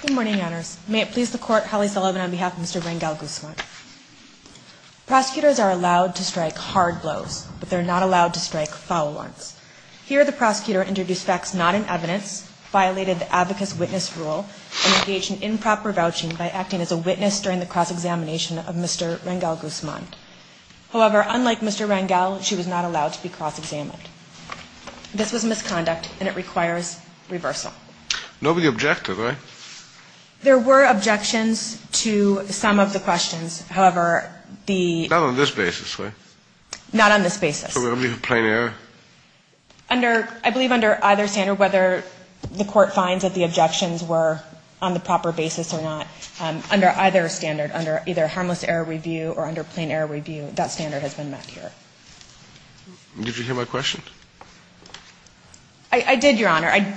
Good morning, Your Honors. May it please the Court, Holly Sullivan on behalf of Mr. Rangel-Guzman. Prosecutors are allowed to strike hard blows, but they're not allowed to strike foul ones. Here, the prosecutor introduced facts not in evidence, violated the advocate's witness rule, and engaged in improper vouching by acting as a witness during the cross-examination of Mr. Rangel-Guzman. However, unlike Mr. Rangel, she was not allowed to be cross-examined. This was misconduct, and it requires reversal. Nobody objected, right? There were objections to some of the questions. However, the – Not on this basis, right? Not on this basis. So it would be a plain error? Under – I believe under either standard, whether the Court finds that the objections were on the proper basis or not, under either standard, under either harmless error review or under plain error review, that standard has been met here. Did you hear my question? I did, Your Honor. I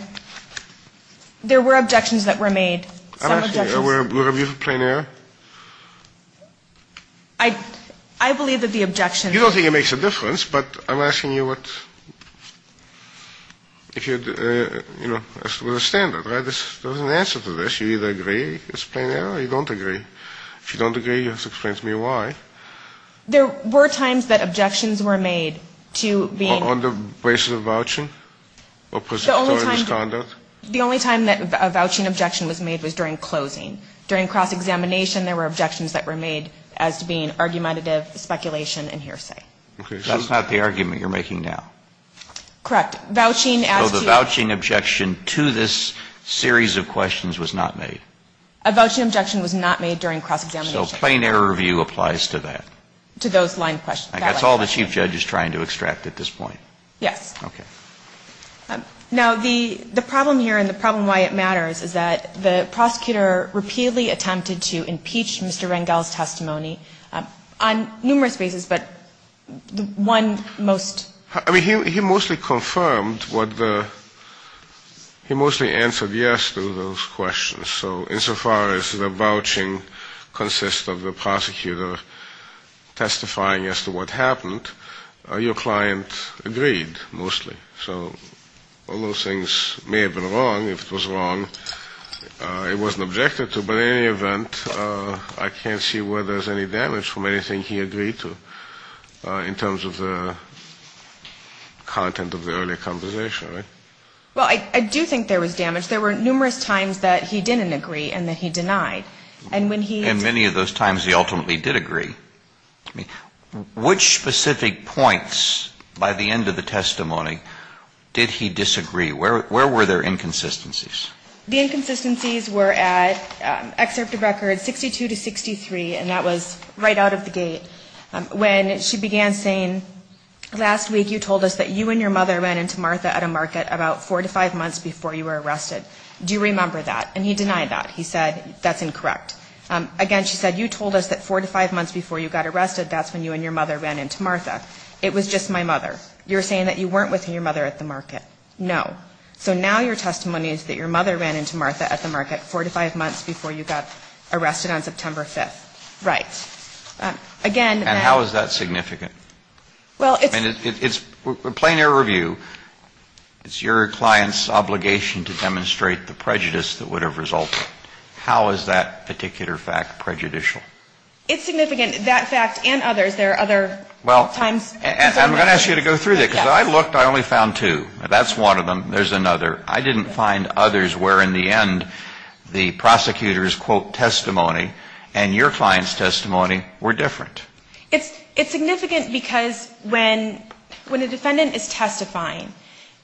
– there were objections that were made. I'm asking you, were – were reviews of plain error? I – I believe that the objections – You don't think it makes a difference, but I'm asking you what – if you – you know, with a standard, right? There's an answer to this. You either agree it's plain error or you don't agree. If you don't agree, you have to explain to me why. There were times that objections were made to being – On the basis of vouching? Or presumptuous conduct? The only time that a vouching objection was made was during closing. During cross-examination, there were objections that were made as to being argumentative speculation and hearsay. That's not the argument you're making now. Correct. Vouching as to – So the vouching objection to this series of questions was not made? A vouching objection was not made during cross-examination. So plain error review applies to that? To those line questions. That's all the Chief Judge is trying to extract at this point? Yes. Okay. Now, the – the problem here and the problem why it matters is that the prosecutor repeatedly attempted to impeach Mr. Rangel's testimony on numerous bases, but the one most – I mean, he – he mostly confirmed what the – he mostly answered yes to those questions. So insofar as the vouching consists of the prosecutor testifying as to what happened, your client agreed mostly. So all those things may have been wrong. If it was wrong, it wasn't objected to. But in any event, I can't see where there's any damage from anything he agreed to in terms of the content of the earlier conversation, right? Well, I do think there was damage. There were numerous times that he didn't agree and that he denied. And when he – And many of those times he ultimately did agree. I mean, which specific points by the end of the testimony did he disagree? Where – where were there inconsistencies? The inconsistencies were at excerpt of record 62 to 63, and that was right out of the gate. When she began saying, last week you told us that you and your mother ran into Martha at a market about four to five months before you were arrested. Do you remember that? And he denied that. He said, that's incorrect. Again, she said, you told us that four to five months before you got arrested, that's when you and your mother ran into Martha. It was just my mother. You're saying that you weren't with your mother at the market. No. So now your testimony is that your mother ran into Martha at the market four to five months before you got arrested on September 5th. Right. Again, that – And how is that significant? Well, it's – I mean, it's – plain air review, it's your client's obligation to demonstrate the prejudice that would have resulted. How is that particular fact prejudicial? It's significant. That fact and others. There are other times – Well, I'm going to ask you to go through that. Because I looked. I only found two. That's one of them. There's another. I didn't find others where in the end the prosecutor's, quote, testimony and your client's testimony were different. It's significant because when a defendant is testifying,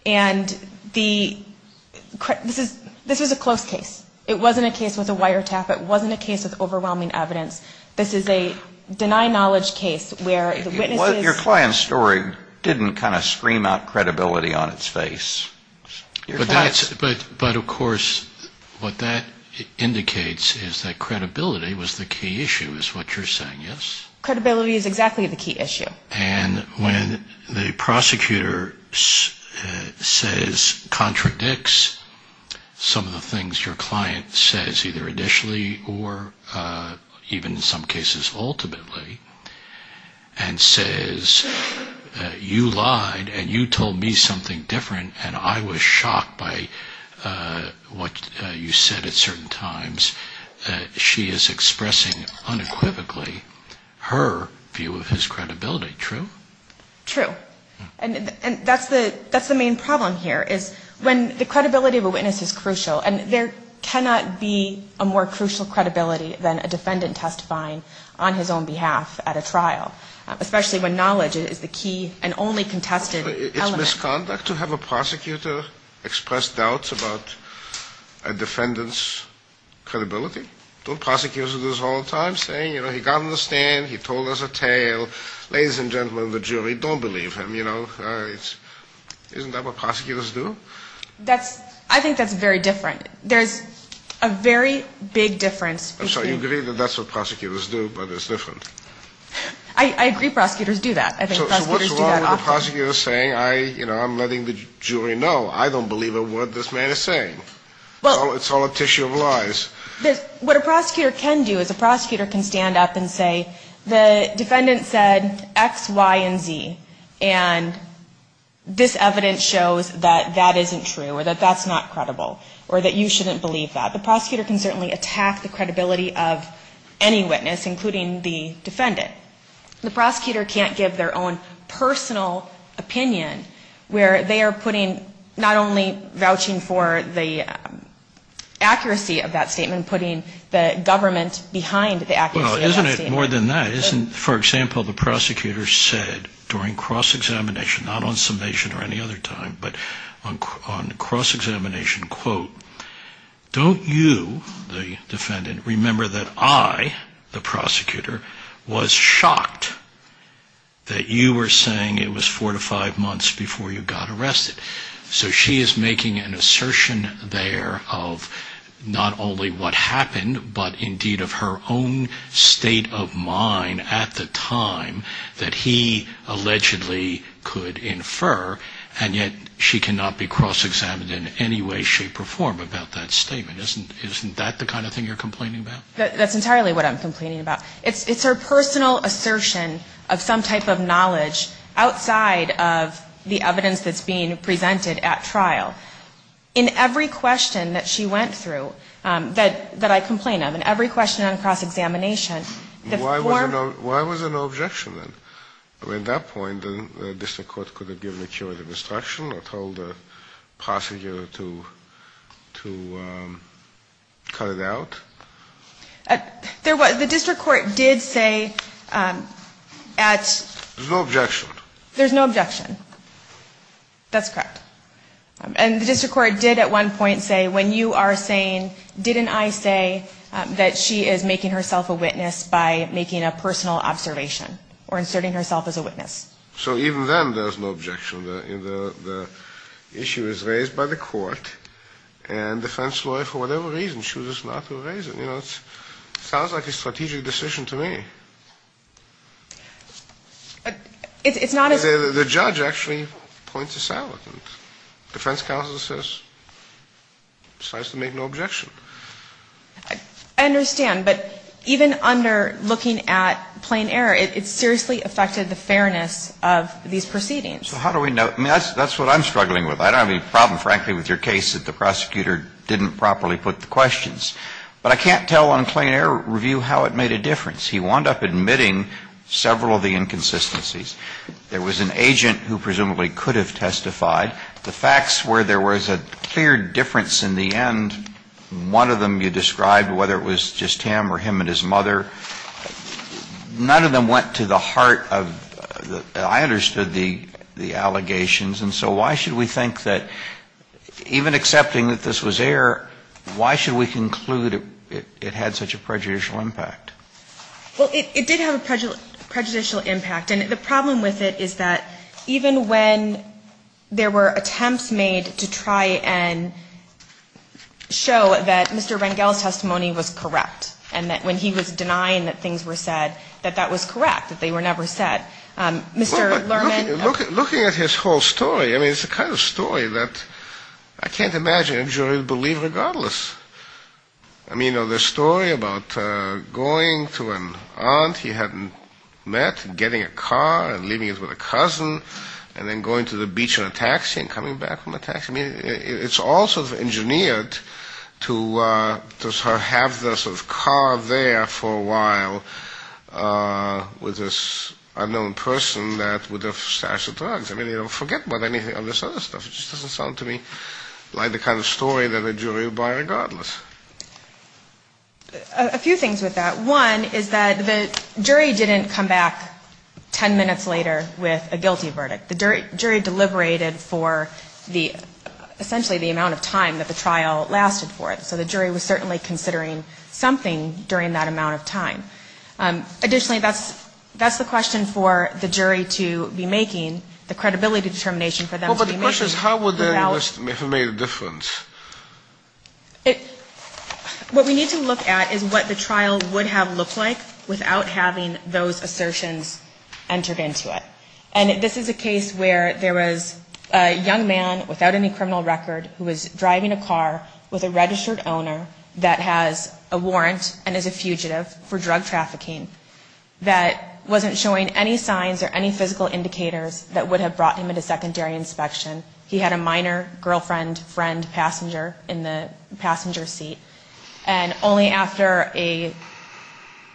and the – this is a close case. It wasn't a case with a wiretap. It wasn't a case with overwhelming evidence. This is a denied knowledge case where the witness is – Your client's story didn't kind of scream out credibility on its face. Your client's – But that's – but, of course, what that indicates is that credibility was the key issue is what you're saying, yes? Credibility is exactly the key issue. And when the prosecutor says – contradicts some of the things your client says, either initially or even in some cases ultimately, and says you lied and you told me something different and I was shocked by what you said at certain times, she is expressing unequivocally her view of his credibility. True? True. And that's the main problem here is when the credibility of a witness is crucial, and there cannot be a more crucial credibility than a defendant testifying on his own behalf at a trial, It's misconduct to have a prosecutor express doubts about a defendant's credibility. Don't prosecutors do this all the time, saying, you know, he got on the stand, he told us a tale, ladies and gentlemen of the jury, don't believe him, you know? Isn't that what prosecutors do? That's – I think that's very different. There's a very big difference between – I'm sorry, you agree that that's what prosecutors do, but it's different. I agree prosecutors do that. So what's wrong with a prosecutor saying, you know, I'm letting the jury know I don't believe a word this man is saying? It's all a tissue of lies. What a prosecutor can do is a prosecutor can stand up and say the defendant said X, Y, and Z, and this evidence shows that that isn't true or that that's not credible or that you shouldn't believe that. The prosecutor can certainly attack the credibility of any witness, including the defendant. The prosecutor can't give their own personal opinion where they are putting – not only vouching for the accuracy of that statement, putting the government behind the accuracy of that statement. Well, isn't it more than that? For example, the prosecutor said during cross-examination, not on summation or any other time, but on cross-examination, quote, Don't you, the defendant, remember that I, the prosecutor, was shocked that you were saying it was four to five months before you got arrested? So she is making an assertion there of not only what happened, but indeed of her own state of mind at the time that he allegedly could infer, and yet she cannot be cross-examined in any way, shape, or form about that statement. Isn't that the kind of thing you're complaining about? That's entirely what I'm complaining about. It's her personal assertion of some type of knowledge outside of the evidence that's being presented at trial. In every question that she went through that I complained of, in every question on cross-examination, Why was there no objection then? At that point, the district court could have given a curative instruction or told the prosecutor to cut it out? The district court did say at... There's no objection. There's no objection. That's correct. And the district court did at one point say, When you are saying, didn't I say that she is making herself a witness by making a personal observation or inserting herself as a witness? So even then, there's no objection. The issue is raised by the court, and the defense lawyer, for whatever reason, chooses not to raise it. You know, it sounds like a strategic decision to me. It's not as... The judge actually points this out. The defense counsel says, decides to make no objection. I understand. But even under looking at plain error, it seriously affected the fairness of these proceedings. So how do we know? I mean, that's what I'm struggling with. I don't have any problem, frankly, with your case that the prosecutor didn't properly put the questions. But I can't tell on plain error review how it made a difference. He wound up admitting several of the inconsistencies. There was an agent who presumably could have testified. The facts were there was a clear difference in the end. One of them you described, whether it was just him or him and his mother. None of them went to the heart of the... I understood the allegations. And so why should we think that even accepting that this was error, why should we conclude it had such a prejudicial impact? Well, it did have a prejudicial impact. And the problem with it is that even when there were attempts made to try and show that Mr. Rangel's testimony was correct, and that when he was denying that things were said, that that was correct, that they were never said, Mr. Lerman... Looking at his whole story, I mean, it's the kind of story that I can't imagine a jury would believe regardless. I mean, you know, the story about going to an aunt he hadn't met and getting a car and leaving it with a cousin and then going to the beach in a taxi and coming back from a taxi. I mean, it's all sort of engineered to sort of have this carved there for a while with this unknown person with a stash of drugs. I mean, forget about any of this other stuff. It just doesn't sound to me like the kind of story that a jury would buy regardless. A few things with that. One is that the jury didn't come back ten minutes later with a guilty verdict. The jury deliberated for essentially the amount of time that the trial lasted for it. So the jury was certainly considering something during that amount of time. Additionally, that's the question for the jury to be making, the credibility determination for them to be making. Well, but the question is how would that have made a difference? What we need to look at is what the trial would have looked like without having those assertions entered into it. And this is a case where there was a young man without any criminal record who was driving a car with a registered owner that has a warrant and is a fugitive for drug trafficking that wasn't showing any signs or any physical indicators that would have brought him into secondary inspection. He had a minor girlfriend friend passenger in the passenger seat. And only after a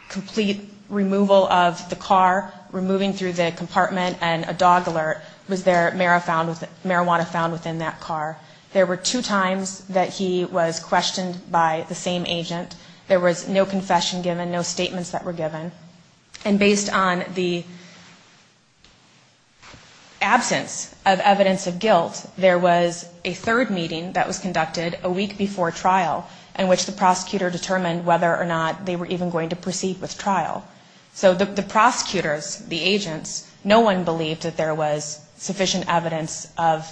complete removal of the car, removing through the compartment and a dog alert was there marijuana found within that car. There were two times that he was questioned by the same agent. There was no confession given, no statements that were given. And based on the absence of evidence of guilt, there was a third meeting that was conducted a week before trial in which the prosecutor determined whether or not they were even going to proceed with trial. So the prosecutors, the agents, no one believed that there was sufficient evidence of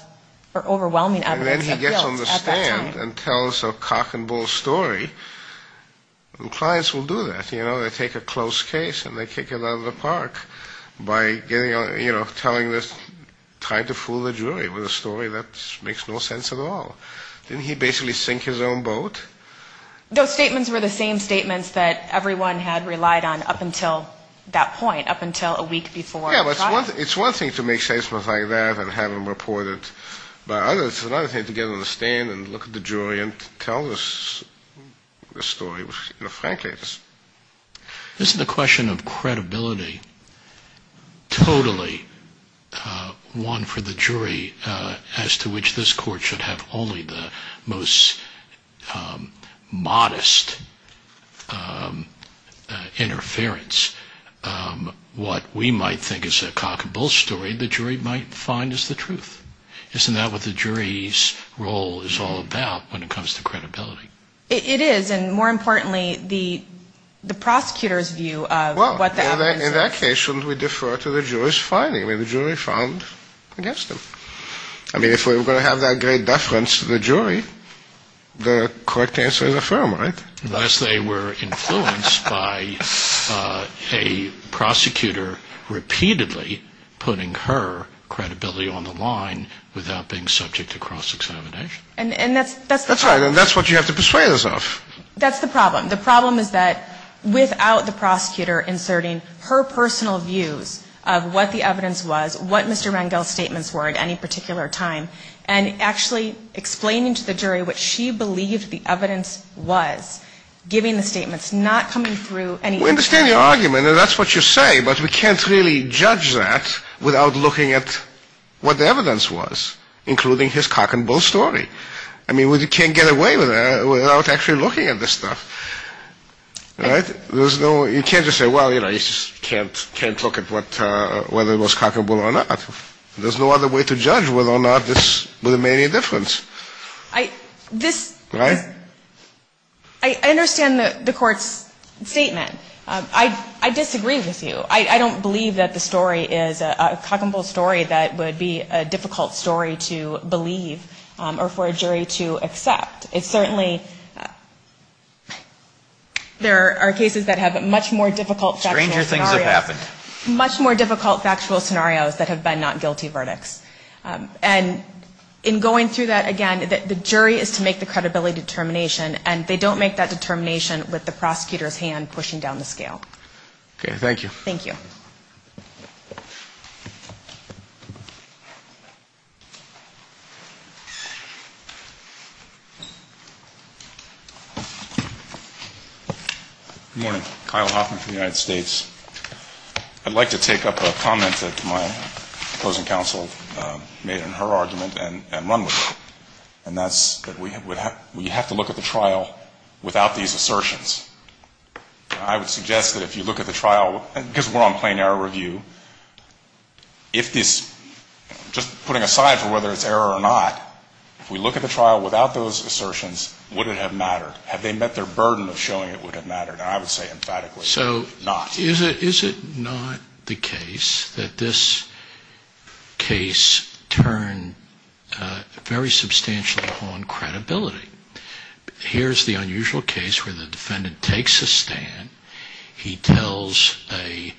or overwhelming evidence of guilt at that time. And so when a judge comes in and tells a cock and bull story, clients will do that. They take a closed case and they kick it out of the park by telling this, trying to fool the jury with a story that makes no sense at all. Didn't he basically sink his own boat? Those statements were the same statements that everyone had relied on up until that point, up until a week before trial. It's one thing to make statements like that and have them reported by others. It's another thing to get on the stand and look at the jury and tell the story, which frankly it's... This is a question of credibility, totally one for the jury, as to which this Court should have only the most modest interference. What we might think is a cock and bull story, the jury might find is the truth. Isn't that what the jury's role is all about when it comes to credibility? It is, and more importantly, the prosecutor's view of what the evidence is. In that case, shouldn't we defer to the jury's finding, what the jury found against him? I mean, if we were going to have that great deference to the jury, the correct answer is affirm, right? Unless they were influenced by a prosecutor repeatedly putting her credibility on the line without being subject to cross-examination. And that's the problem. That's right, and that's what you have to persuade us of. That's the problem. The problem is that without the prosecutor inserting her personal views of what the evidence was, what Mr. Rangel's statements were at any particular time, and actually explaining to the jury what she believed the evidence was, giving the statements, not coming through any... We understand your argument, and that's what you say, but we can't really judge that without looking at what the evidence was, including his cock and bull story. You can't just say, well, you know, you just can't look at whether it was cock and bull or not. There's no other way to judge whether or not this made any difference. Right? I understand the Court's statement. I disagree with you. I don't believe that the story is a cock and bull story that would be a difficult story to believe or for a jury to accept. It's certainly... There are cases that have much more difficult factual scenarios. Stranger things have happened. Much more difficult factual scenarios that have been not guilty verdicts. And in going through that again, the jury is to make the credibility determination, and they don't make that determination with the prosecutor's hand pushing down the scale. Okay. Thank you. Good morning. Kyle Hoffman from the United States. I'd like to take up a comment that my closing counsel made in her argument and run with it. And that's that we have to look at the trial without these assertions. I would suggest that if you look at the trial, because we're on plain error review, if this, just putting aside for whether it's error or not, if we look at the trial without those assertions, would it have mattered? Had they met their burden of showing it would have mattered? I would say emphatically not. So is it not the case that this case turned very substantially on credibility? Here's the unusual case where the defendant takes a stand. He tells a...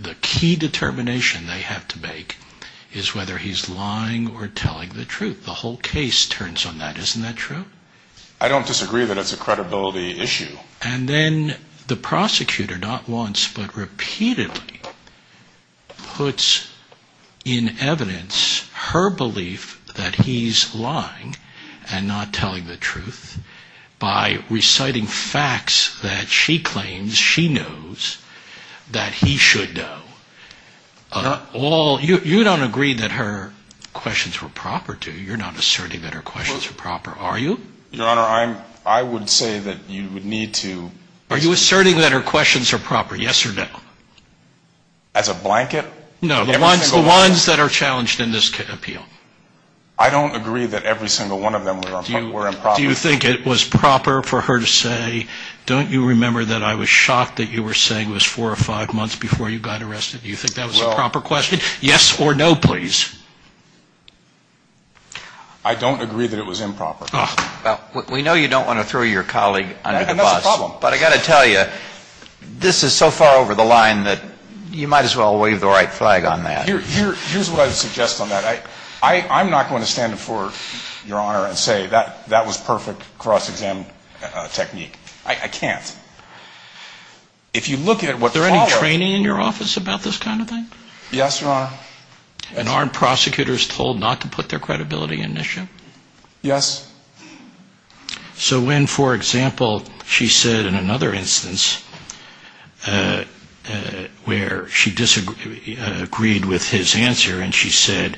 The key determination they have to make is whether he's lying or telling the truth. The whole case turns on that. Isn't that true? I don't disagree that it's a credibility issue. And then the prosecutor not once but repeatedly puts in evidence her belief that he's lying and not telling the truth by reciting facts that she claims she knows that he should know. You don't agree that her questions were proper, do you? You're not asserting that her questions were proper, are you? Your Honor, I would say that you would need to... Are you asserting that her questions are proper, yes or no? As a blanket? No, the ones that are challenged in this appeal. I don't agree that every single one of them were improper. Do you think it was proper for her to say, don't you remember that I was shocked that you were saying it was four or five months before you got arrested? Do you think that was a proper question? Yes or no, please. I don't agree that it was improper. We know you don't want to throw your colleague under the bus. And that's the problem. But I've got to tell you, this is so far over the line that you might as well wave the right flag on that. Here's what I would suggest on that. I'm not going to stand before Your Honor and say that that was perfect cross-exam technique. I can't. Is there any training in your office about this kind of thing? Yes, Your Honor. And aren't prosecutors told not to put their credibility in this issue? Yes. So when, for example, she said in another instance where she disagreed with his answer and she said,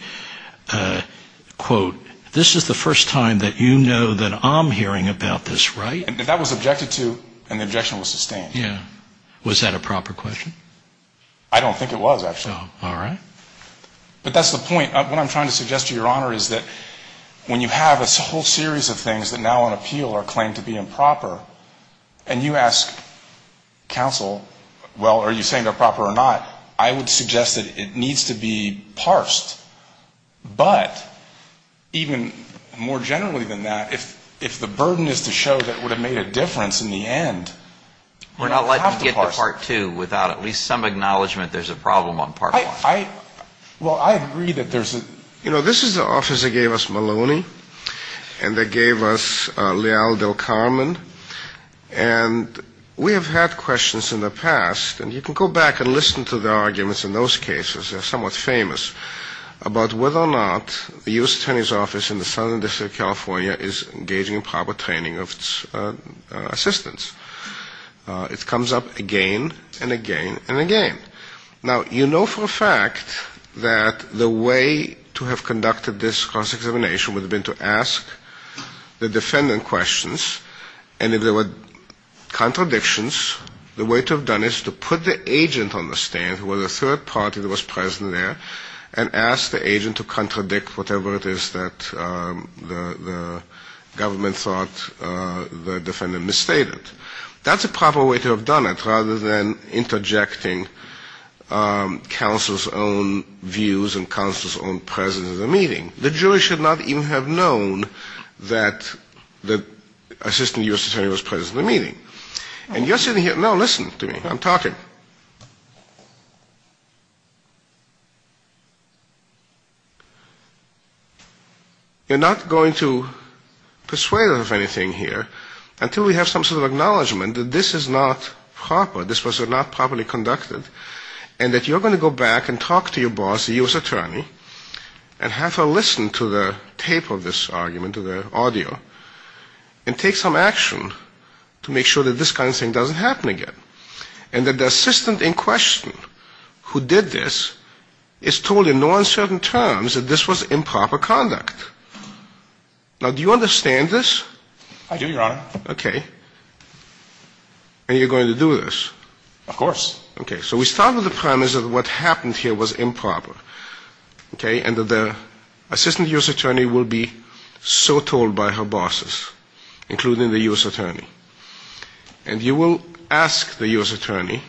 quote, this is the first time that you know that I'm hearing about this, right? That was objected to and the objection was sustained. Yeah. Was that a proper question? I don't think it was, actually. All right. But that's the point. What I'm trying to suggest to Your Honor is that when you have a whole series of things that now on appeal are claimed to be improper and you ask counsel, well, are you saying they're proper or not? I would suggest that it needs to be parsed. But even more generally than that, if the burden is to show that it would have made a difference in the end, we don't have to parse it. Well, I agree that there's a, you know, this is the office that gave us Maloney and that gave us Leal del Carmen, and we have had questions in the past, and you can go back and listen to the arguments in those cases, they're somewhat famous, about whether or not the U.S. Attorney's Office in the Southern District of California is engaging in proper training of its assistants. It comes up again and again and again. Now, you know for a fact that the way to have conducted this cross-examination would have been to ask the defendant questions, and if there were contradictions, the way to have done it is to put the agent on the stand, who was a third party that was present there, and ask the agent to contradict whatever it is that the government thought the defendant misstated. That's a proper way to have done it, rather than interjecting counsel's own views and counsel's own presence at the meeting. The jury should not even have known that the assistant U.S. attorney was present at the meeting. And you're sitting here, no, listen to me, I'm talking. You're not going to persuade us of anything here until we have some sort of acknowledgement that this is not proper, this was not properly conducted, and that you're going to go back and talk to your boss, the U.S. attorney, and have her listen to the tape of this argument, to the audio, and take some action to make sure that this kind of thing doesn't happen again. And that the assistant in question who did this is told in no uncertain terms that this was improper conduct. Now, do you understand this? I do, Your Honor. Okay. And you're going to do this? Of course. Okay, so we start with the premise that what happened here was improper, and that the assistant U.S. attorney will be so told by her bosses, including the U.S. attorney, and you will ask the U.S. attorney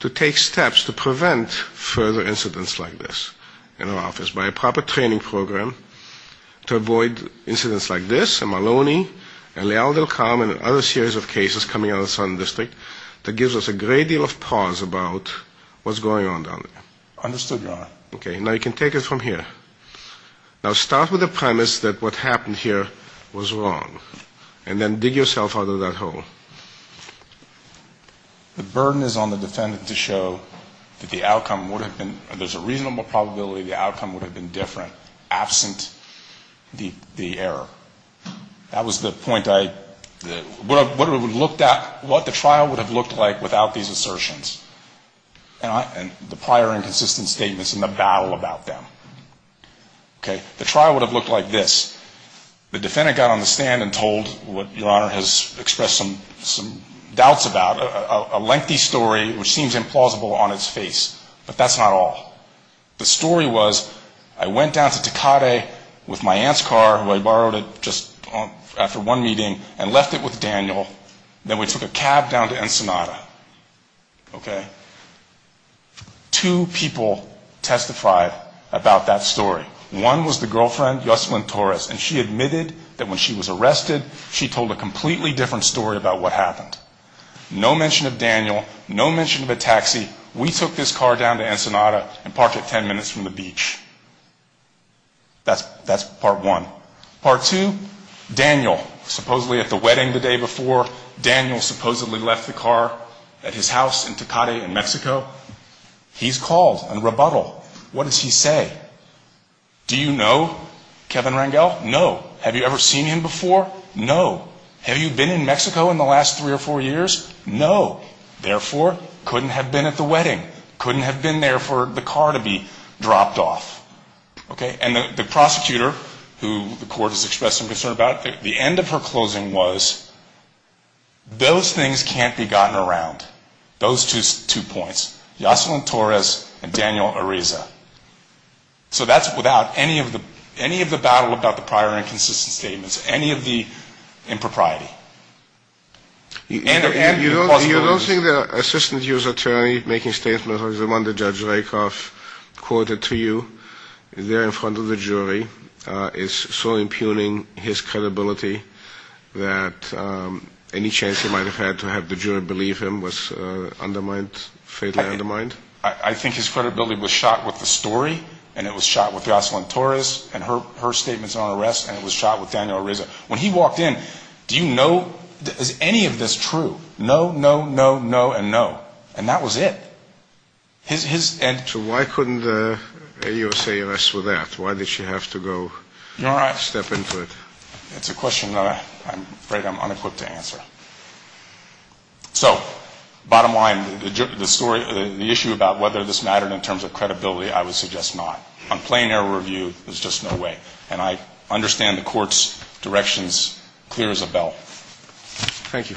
to take steps to prevent further incidents like this in our office by a proper training program to avoid incidents like this, and Maloney, and Leal del Carmen, and other series of cases coming out of the Southern District that gives us a great deal of pause about what's going on down there. Understood, Your Honor. Okay, now you can take it from here. Now, start with the premise that what happened here was wrong, and then dig yourself out of that hole. The burden is on the defendant to show that the outcome would have been, there's a reasonable probability the outcome would have been different absent the error. That was the point I, what it would have looked at, what the trial would have looked like without these assertions, and the prior inconsistent statements and the battle about them. Okay, the trial would have looked like this. The defendant got on the stand and told what Your Honor has expressed some doubts about, a lengthy story which seems implausible on its face, but that's not all. The story was I went down to Tecate with my aunt's car, who I borrowed it just after one meeting, and left it with Daniel, then we took a cab down to Ensenada. Okay? Two people testified about that story. One was the girlfriend, Yoselin Torres, and she admitted that when she was arrested, she told a completely different story about what happened. No mention of Daniel, no mention of a taxi, we took this car down to Ensenada and parked it ten minutes from the beach. That's part one. Part two, Daniel, supposedly at the wedding the day before, Daniel supposedly left the car at his house in Tecate in Mexico. He's called on rebuttal. What does he say? Do you know Kevin Rangel? No. Have you ever seen him before? No. Have you been in Mexico in the last three or four years? No. Okay. And the prosecutor, who the court has expressed some concern about, the end of her closing was, those things can't be gotten around. Those two points. So that's without any of the battle about the prior inconsistent statements, any of the impropriety. You don't think the assistant U.S. attorney making statements, the one that Judge Rakoff quoted to you, there in front of the jury, is so impugning his credibility that any chance he might have had to have the jury believe him was undermined, fatally undermined? I think his credibility was shot with the story, and it was shot with Jocelyn Torres, and her statements on arrest, and it was shot with Daniel Ariza. When he walked in, do you know, is any of this true? No, no, no, no, and no. And that was it. So why couldn't the AUSA arrest for that? Why did she have to go step into it? It's a question I'm afraid I'm unequipped to answer. So bottom line, the story, the issue about whether this mattered in terms of credibility, I would suggest not. On plain error review, there's just no way. And I understand the court's directions clear as a bell. Thank you.